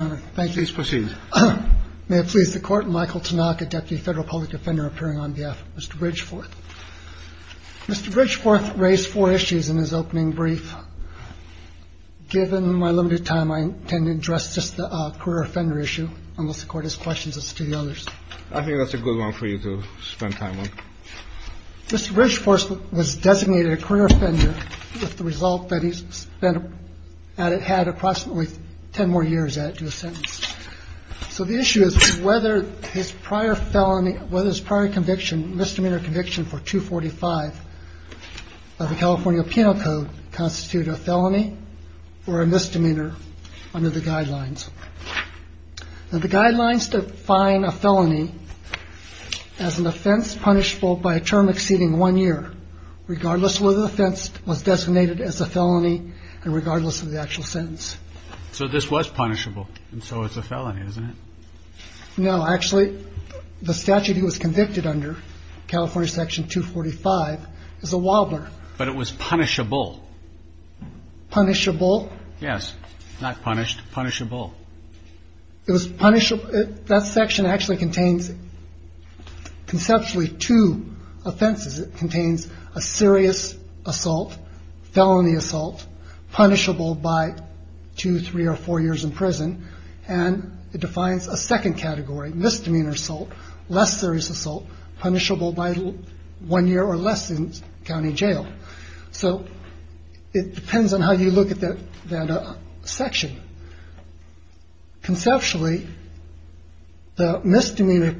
Mr. Bridgeforth raised four issues in his opening brief. Given my limited time, I intend to address just the career offender issue unless the Court has questions as to the others. I think that's a good one for you to spend time on. Mr. Bridgeforth was designated a career offender with the result that he had approximately ten more years to a sentence. So the issue is whether his prior felony, whether his prior conviction, misdemeanor conviction for 245 of the California Penal Code, constituted a felony or a misdemeanor under the guidelines. The guidelines define a felony as an offense punishable by a term exceeding one year, regardless whether the offense was designated as a felony and regardless of the actual sentence. So this was punishable, and so it's a felony, isn't it? No, actually, the statute he was convicted under, California Section 245, is a wobbler. But it was punishable. Punishable? Yes. Not punished. Punishable. It was punishable. That section actually contains conceptually two offenses. It contains a serious assault, felony assault, punishable by two, three, or four years in prison. And it defines a second category, misdemeanor assault, less serious assault, punishable by one year or less in county jail. So it depends on how you look at that section. Conceptually, the misdemeanor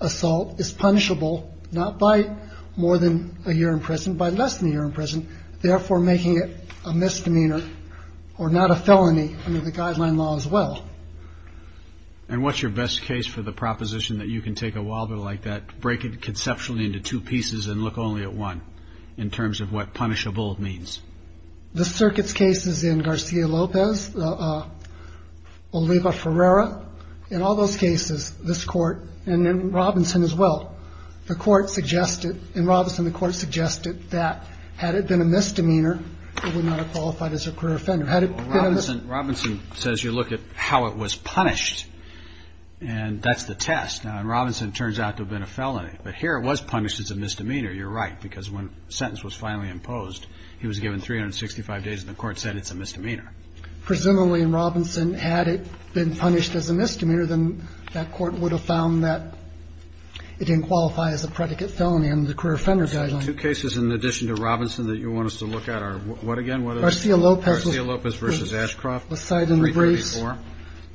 assault is punishable not by more than a year in prison, by less than a year in prison, therefore making it a misdemeanor or not a felony under the guideline law as well. And what's your best case for the proposition that you can take a wobbler like that, break it conceptually into two pieces and look only at one in terms of what punishable means? The circuit's cases in Garcia-Lopez, Oliva-Ferreira, in all those cases, this Court, and in Robinson as well, the Court suggested, in Robinson, the Court suggested that had it been a misdemeanor, it would not have qualified as a career offender. Robinson says you look at how it was punished, and that's the test. Now, in Robinson, it turns out to have been a felony. But here it was punished as a misdemeanor. You're right, because when the sentence was finally imposed, he was given 365 days, and the Court said it's a misdemeanor. Presumably, in Robinson, had it been punished as a misdemeanor, then that Court would have found that it didn't qualify as a predicate felony under the career offender guideline. The two cases in addition to Robinson that you want us to look at are what again? Garcia-Lopez. Garcia-Lopez v. Ashcroft. Lucida and the Brace. 334.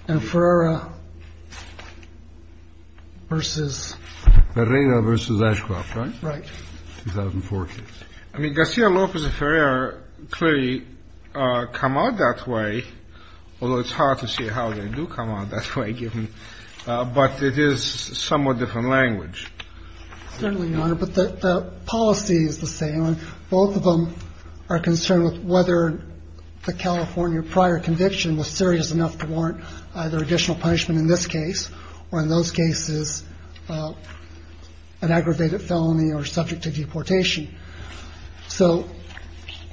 And Ferreira v. Ferreira v. Ashcroft, right? Right. 2004 case. I mean, Garcia-Lopez and Ferreira clearly come out that way, although it's hard to see how they do come out that way, but it is somewhat different language. Certainly, Your Honor, but the policy is the same. Both of them are concerned with whether the California prior conviction was serious enough to warrant either additional punishment in this case or in those cases an aggravated felony or subject to deportation. So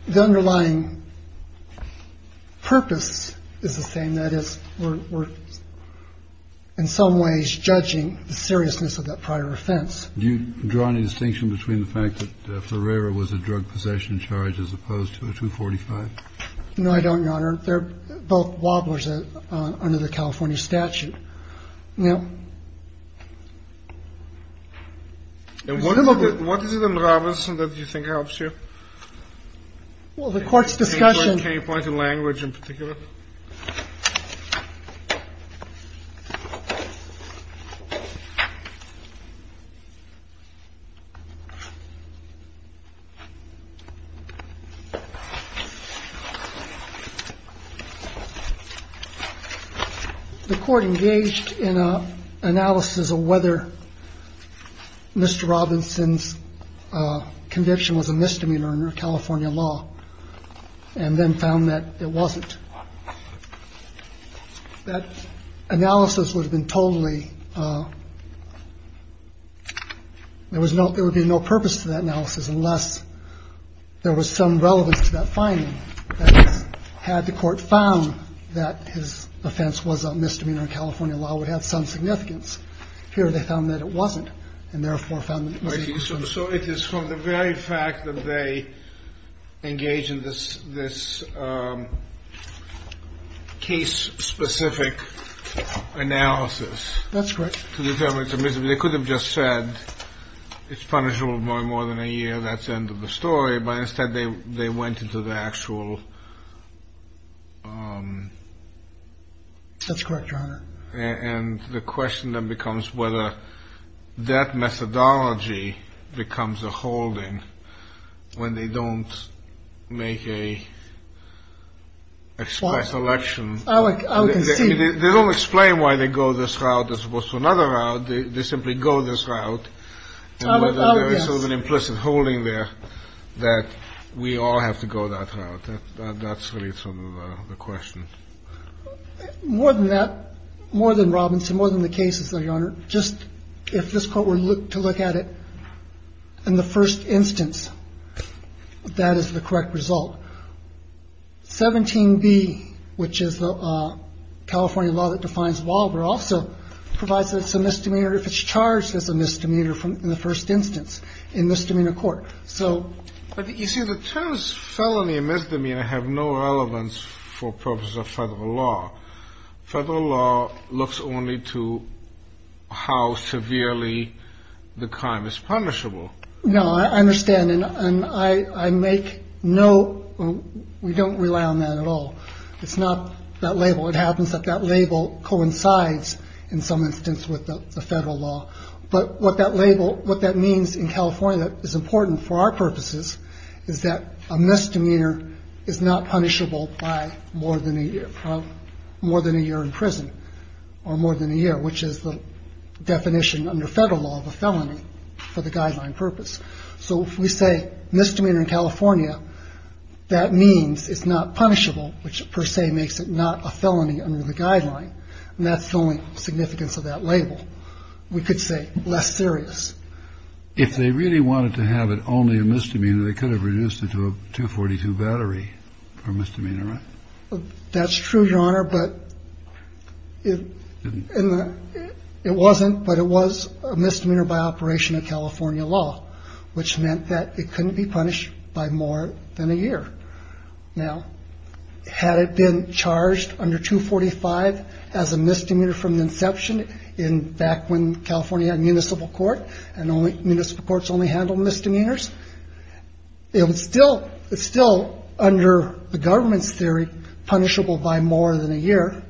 the underlying purpose is the same. That is, we're in some ways judging the seriousness of that prior offense. Do you draw any distinction between the fact that Ferreira was a drug possession charge as opposed to a 245? No, I don't, Your Honor. They're both wobblers under the California statute. And what is it in Robinson that you think helps you? Well, the court's discussion. Can you point to language in particular? The court engaged in an analysis of whether Mr. And then found that it wasn't. That analysis would have been totally ‑‑ there would be no purpose to that analysis unless there was some relevance to that finding. That is, had the court found that his offense was a misdemeanor in California law, it would have some significance. Here they found that it wasn't, and therefore found that it was a misdemeanor. So it is from the very fact that they engage in this case-specific analysis. That's correct. They could have just said it's punishable by more than a year, that's the end of the story. But instead they went into the actual ‑‑ That's correct, Your Honor. And the question then becomes whether that methodology becomes a holding when they don't make a express election. I would concede. They don't explain why they go this route as opposed to another route. They simply go this route. Oh, yes. And whether there is sort of an implicit holding there that we all have to go that route. That's really sort of the question. More than that, more than Robinson, more than the cases, though, Your Honor, just if this Court were to look at it in the first instance, that is the correct result. 17B, which is the California law that defines Wahlberg, also provides that it's a misdemeanor if it's charged as a misdemeanor in the first instance in misdemeanor court. But you see, the terms felony and misdemeanor have no relevance for purposes of federal law. Federal law looks only to how severely the crime is punishable. No, I understand. And I make no ‑‑ we don't rely on that at all. It's not that label. It happens that that label coincides in some instance with the federal law. But what that label, what that means in California is important for our purposes is that a misdemeanor is not punishable by more than a year in prison or more than a year, which is the definition under federal law of a felony for the guideline purpose. So if we say misdemeanor in California, that means it's not punishable, which per se makes it not a felony under the guideline. And that's the only significance of that label. We could say less serious. If they really wanted to have it only a misdemeanor, they could have reduced it to a 242 battery for misdemeanor, right? That's true, Your Honor, but it wasn't. But it was a misdemeanor by operation of California law, which meant that it couldn't be punished by more than a year. Now, had it been charged under 245 as a misdemeanor from inception in back when California municipal court and only municipal courts only handle misdemeanors, it was still still under the government's theory punishable by more than a year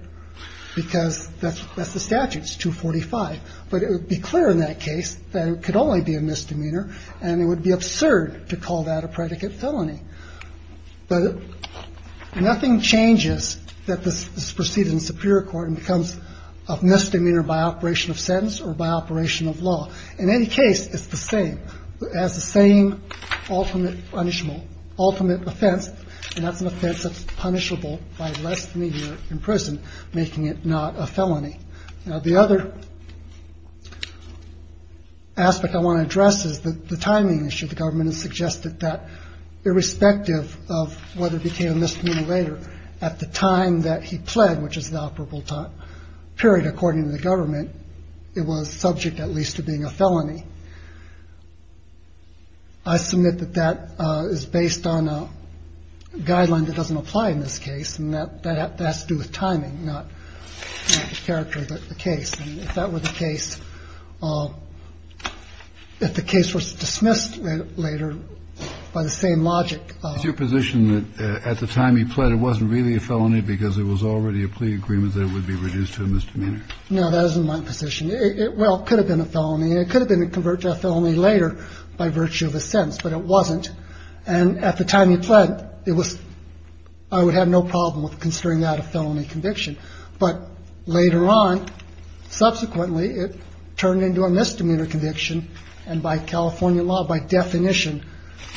because that's the statutes 245. But it would be clear in that case that it could only be a misdemeanor and it would be absurd to call that a predicate felony. But nothing changes that. This is proceeded in superior court and becomes a misdemeanor by operation of sentence or by operation of law. In any case, it's the same as the same ultimate punishment, ultimate offense. And that's an offense that's punishable by less than a year in prison, making it not a felony. Now, the other aspect I want to address is the timing issue. The government has suggested that irrespective of whether it became a misdemeanor later at the time that he pled, which is the operable period, according to the government, it was subject at least to being a felony. I submit that that is based on a guideline that doesn't apply in this case. And that has to do with timing, not the character of the case. And if that were the case, if the case was dismissed later by the same logic. Is your position that at the time he pled it wasn't really a felony because it was already a plea agreement that it would be reduced to a misdemeanor? No, that isn't my position. Well, it could have been a felony. It could have been a convert to a felony later by virtue of a sentence. But it wasn't. And at the time he pled, it was I would have no problem with considering that a felony conviction. But later on, subsequently, it turned into a misdemeanor conviction. And by California law, by definition,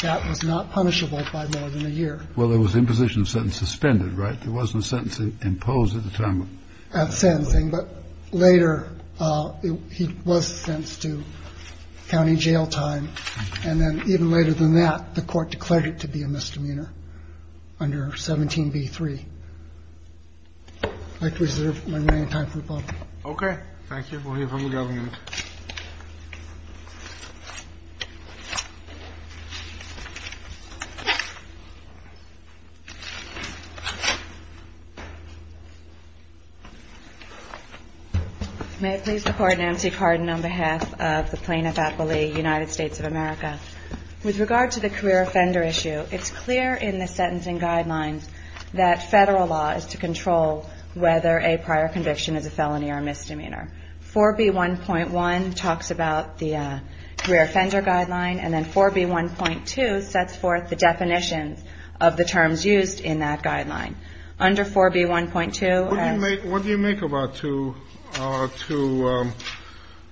that was not punishable by more than a year. Well, there was imposition sentence suspended. Right. There wasn't a sentence imposed at the time of sentencing. But later he was sentenced to county jail time. And then even later than that, the court declared it to be a misdemeanor under 17B3. I'd like to reserve my remaining time for the public. Okay. Thank you. We'll hear from the government. May I please report Nancy Carden on behalf of the Plaintiff's Academy, United States of America. With regard to the career offender issue, it's clear in the sentencing guidelines that federal law is to control whether a prior conviction is a felony or a misdemeanor. 4B1.1 talks about the career offender guideline, and then 4B1.2 sets forth the definitions of the terms used in that guideline. Under 4B1.2. What do you make about two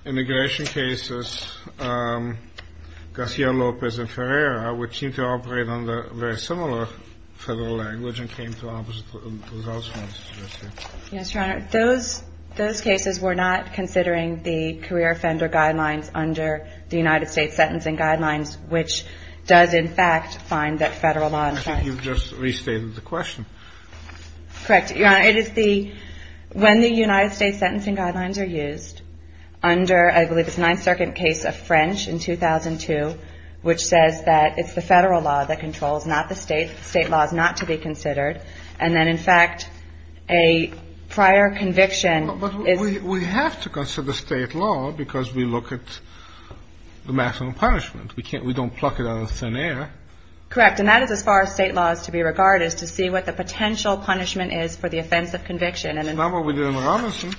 immigration cases, Garcia-Lopez and Ferreira, which seem to operate under very similar federal language and came to opposite results? Yes, Your Honor. Those cases were not considering the career offender guidelines under the United States sentencing guidelines, which does in fact find that federal law. I think you've just restated the question. Correct, Your Honor. It is the – when the United States sentencing guidelines are used under, I believe it's the Ninth Circuit case of French in 2002, which says that it's the federal law that controls, not the state. State law is not to be considered. And then, in fact, a prior conviction is – But we have to consider state law because we look at the maximum punishment. We can't – we don't pluck it out of thin air. Correct. And that is as far as state law is to be regarded, is to see what the potential punishment is for the offense of conviction. It's not what we did in Robinson.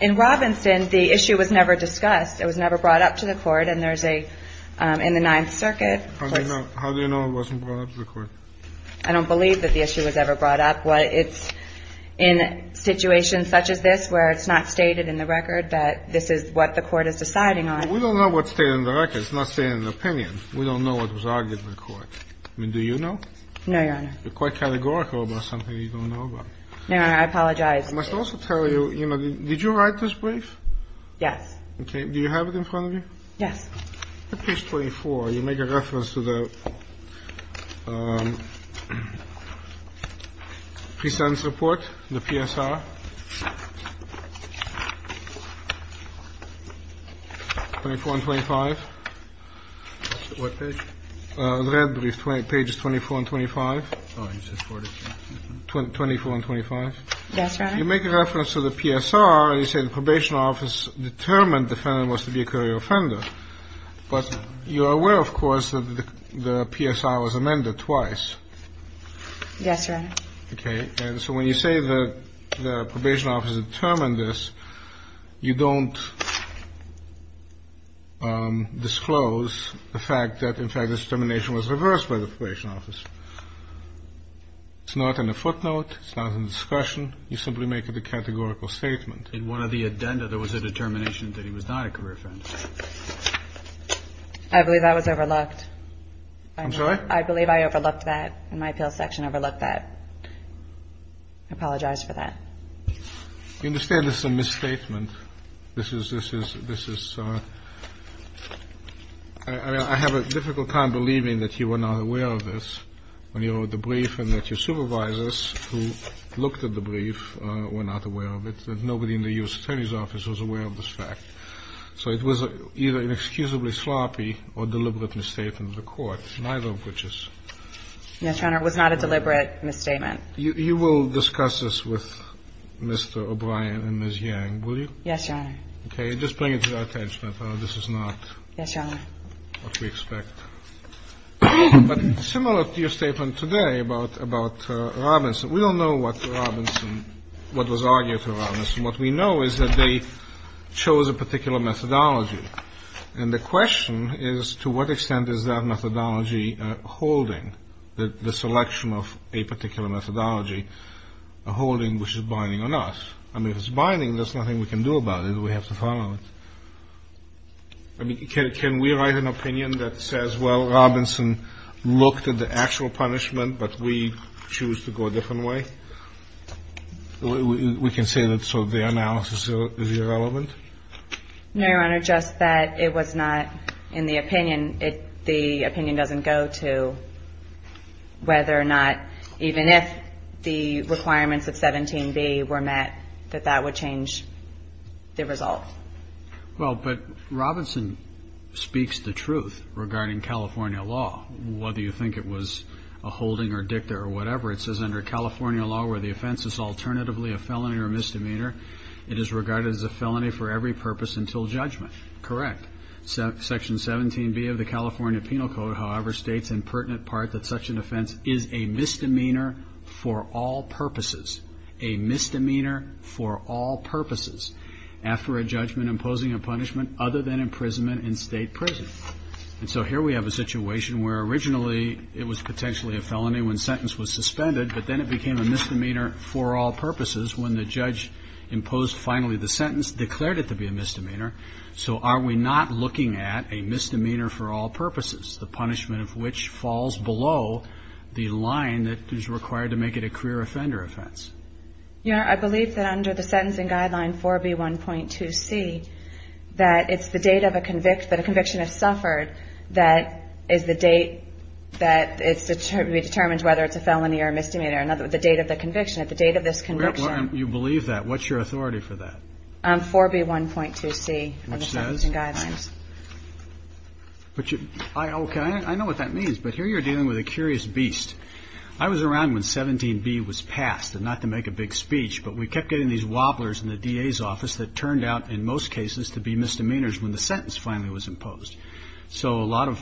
In Robinson, the issue was never discussed. It was never brought up to the Court. And there's a – in the Ninth Circuit – How do you know it wasn't brought up to the Court? I don't believe that the issue was ever brought up. It's in situations such as this where it's not stated in the record that this is what the Court is deciding on. We don't know what's stated in the record. It's not stated in the opinion. We don't know what was argued in the Court. I mean, do you know? No, Your Honor. You're quite categorical about something you don't know about. No, Your Honor. I apologize. I must also tell you, you know, did you write this brief? Yes. Okay. Do you have it in front of you? Yes. In page 24, you make a reference to the pre-sentence report, the PSR, 24 and 25. What page? The red brief, pages 24 and 25. Oh, you said 44. 24 and 25. Yes, Your Honor. You make a reference to the PSR, and you say the Probation Office determined the defendant was to be a career offender. But you're aware, of course, that the PSR was amended twice. Yes, Your Honor. Okay. And so when you say that the Probation Office determined this, you don't disclose the fact that, in fact, the determination was reversed by the Probation Office. It's not in the footnote. It's not in the discussion. You simply make it a categorical statement. In one of the addenda, there was a determination that he was not a career offender. I believe that was overlooked. I'm sorry? I believe I overlooked that. My appeals section overlooked that. I apologize for that. You understand this is a misstatement. I have a difficult time believing that you were not aware of this when you wrote the brief and that your supervisors, who looked at the brief, were not aware of it. Nobody in the U.S. Attorney's Office was aware of this fact. So it was either inexcusably sloppy or deliberate misstatement of the court, neither of which is. Yes, Your Honor. It was not a deliberate misstatement. You will discuss this with Mr. O'Brien and Ms. Yang, will you? Yes, Your Honor. Okay. Just bring it to our attention. This is not what we expect. Yes, Your Honor. But similar to your statement today about Robinson, we don't know what Robinson, what was argued to Robinson. What we know is that they chose a particular methodology. And the question is, to what extent is that methodology holding the selection of a particular methodology, a holding which is binding on us? I mean, if it's binding, there's nothing we can do about it. We have to follow it. I mean, can we write an opinion that says, well, Robinson looked at the actual punishment, but we choose to go a different way? We can say that sort of the analysis is irrelevant? No, Your Honor, just that it was not in the opinion. The opinion doesn't go to whether or not, even if the requirements of 17B were met, that that would change the result. Well, but Robinson speaks the truth regarding California law, whether you think it was a holding or dicta or whatever. It says under California law where the offense is alternatively a felony or misdemeanor, it is regarded as a felony for every purpose until judgment. Correct. Section 17B of the California Penal Code, however, states in pertinent part that such an offense is a misdemeanor for all purposes. A misdemeanor for all purposes after a judgment imposing a punishment other than imprisonment in state prison. And so here we have a situation where originally it was potentially a felony when sentence was suspended, but then it became a misdemeanor for all purposes when the judge imposed finally the sentence, declared it to be a misdemeanor. So are we not looking at a misdemeanor for all purposes, the punishment of which falls below the line that is required to make it a career offender offense? Your Honor, I believe that under the sentencing guideline 4B1.2c, that it's the date that a conviction has suffered that is the date that it's determined whether it's a felony or a misdemeanor, or the date of the conviction. At the date of this conviction. You believe that? What's your authority for that? 4B1.2c of the sentencing guidelines. Okay, I know what that means, but here you're dealing with a curious beast. I was around when 17B was passed, and not to make a big speech, but we kept getting these wobblers in the DA's office that turned out in most cases to be misdemeanors when the sentence finally was imposed. So a lot of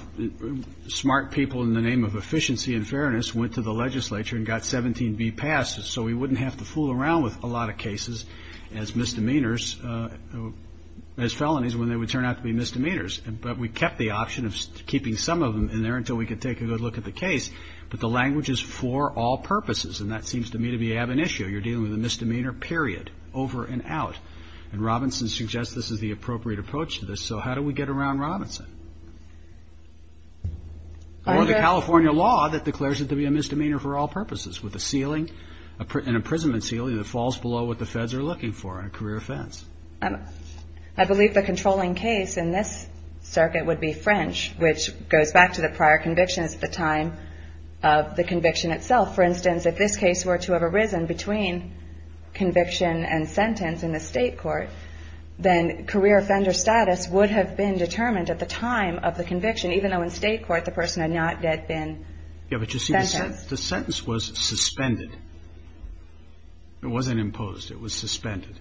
smart people in the name of efficiency and fairness went to the legislature and got 17B passed so we wouldn't have to fool around with a lot of cases as misdemeanors, as felonies when they would turn out to be misdemeanors. But we kept the option of keeping some of them in there until we could take a good look at the case. But the language is for all purposes, and that seems to me to be an issue. You're dealing with a misdemeanor, period, over and out. And Robinson suggests this is the appropriate approach to this. So how do we get around Robinson? Or the California law that declares it to be a misdemeanor for all purposes, with an imprisonment ceiling that falls below what the feds are looking for in a career offense. I believe the controlling case in this circuit would be French, which goes back to the prior convictions at the time of the conviction itself. For instance, if this case were to have arisen between conviction and sentence in the state court, then career offender status would have been determined at the time of the conviction, even though in state court the person had not yet been sentenced. Yeah, but you see, the sentence was suspended. It wasn't imposed. It was suspended.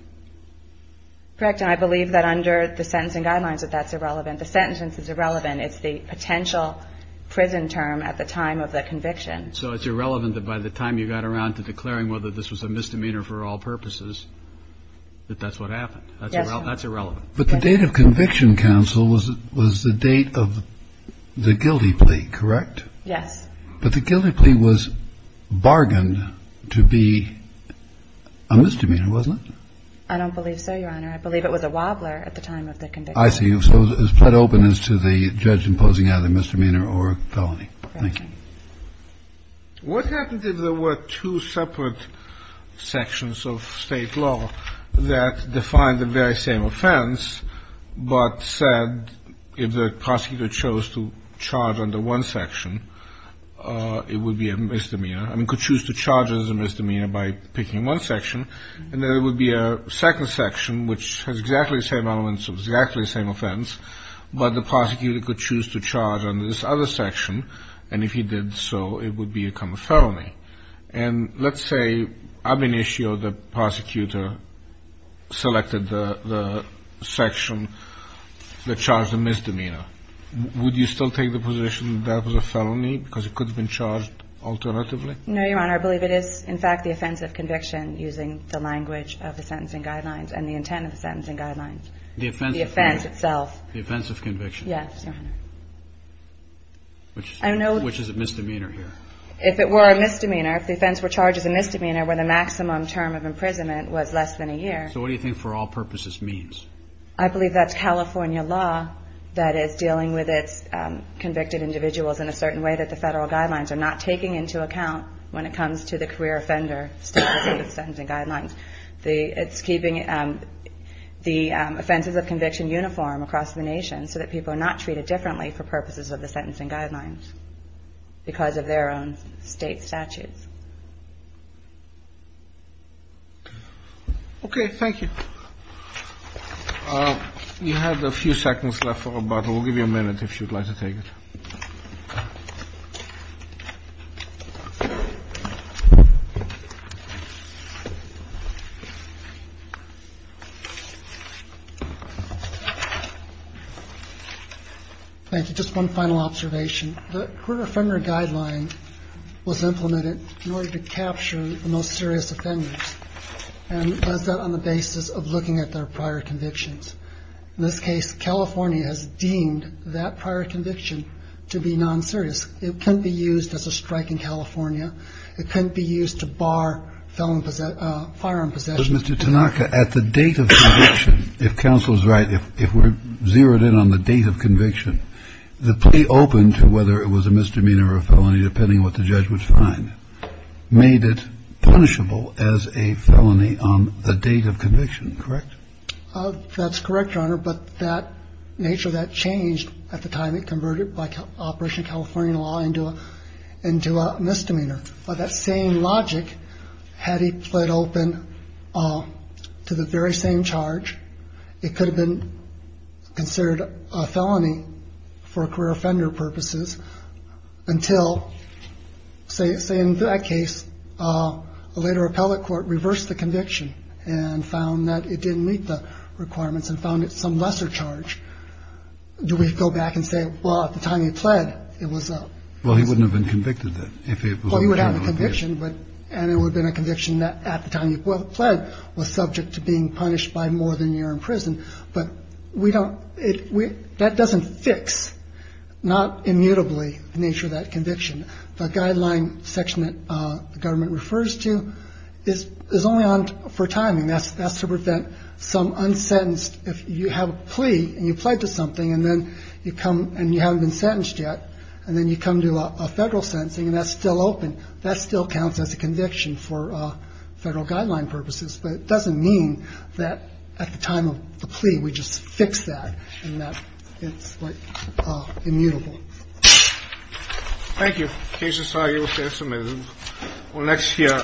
Correct. And I believe that under the sentencing guidelines that that's irrelevant. The sentence is irrelevant. It's the potential prison term at the time of the conviction. So it's irrelevant that by the time you got around to declaring whether this was a misdemeanor for all purposes, that that's what happened. Yes, Your Honor. That's irrelevant. But the date of conviction, counsel, was the date of the guilty plea, correct? Yes. But the guilty plea was bargained to be a misdemeanor, wasn't it? I don't believe so, Your Honor. I believe it was a wobbler at the time of the conviction. I see. So it was fled open as to the judge imposing either misdemeanor or felony. Thank you. What happened if there were two separate sections of state law that defined the very same offense, but said if the prosecutor chose to charge under one section, it would be a misdemeanor? I mean, could choose to charge as a misdemeanor by picking one section, and then there would be a second section which has exactly the same elements, exactly the same offense, but the prosecutor could choose to charge under this other section, and if he did so, it would become a felony. And let's say ab initio the prosecutor selected the section that charged the misdemeanor. Would you still take the position that that was a felony because it could have been charged alternatively? No, Your Honor. I believe it is, in fact, the offense of conviction using the language of the sentencing guidelines and the intent of the sentencing guidelines. The offense itself. The offense of conviction. Yes, Your Honor. Which is a misdemeanor here? If it were a misdemeanor, if the offense were charged as a misdemeanor where the maximum term of imprisonment was less than a year. So what do you think for all purposes means? I believe that's California law that is dealing with its convicted individuals in a certain way that the federal guidelines are not taking into account when it comes to the career offender status of the sentencing guidelines. It's keeping the offenses of conviction uniform across the nation so that people are not treated differently for purposes of the sentencing guidelines because of their own state statutes. Okay. Thank you. We have a few seconds left for rebuttal. Thank you. Just one final observation. The career offender guideline was implemented in order to capture the most serious offenders and does that on the basis of looking at their prior convictions. In this case, California has deemed that prior conviction to be non-serious. It couldn't be used as a strike in California. It couldn't be used to bar firearm possession. Mr. Tanaka, at the date of conviction, if counsel is right, if we're zeroed in on the date of conviction, the plea open to whether it was a misdemeanor or a felony depending on what the judge would find, made it punishable as a felony on the date of conviction, correct? That's correct, Your Honor, but that nature of that changed at the time it converted by Operation California Law into a misdemeanor. By that same logic, had he pled open to the very same charge, it could have been considered a felony for career offender purposes until, say, in that case, a later appellate court reversed the conviction and found that it didn't meet the requirements and found it some lesser charge. Do we go back and say, well, at the time he pled, it was a misdemeanor? Well, he wouldn't have been convicted then if it was a general appeal. Well, he would have a conviction, and it would have been a conviction at the time he pled was subject to being punished by more than a year in prison, but that doesn't fix, not immutably, the nature of that conviction. The guideline section that the government refers to is only for timing. That's to prevent some unsentenced, if you have a plea and you pled to something and you haven't been sentenced yet and then you come to a federal sentencing and that's still open, that still counts as a conviction for federal guideline purposes, but it doesn't mean that at the time of the plea we just fix that and that it's, like, immutable. Thank you. Case is filed. We'll finish in a minute. We'll next hear.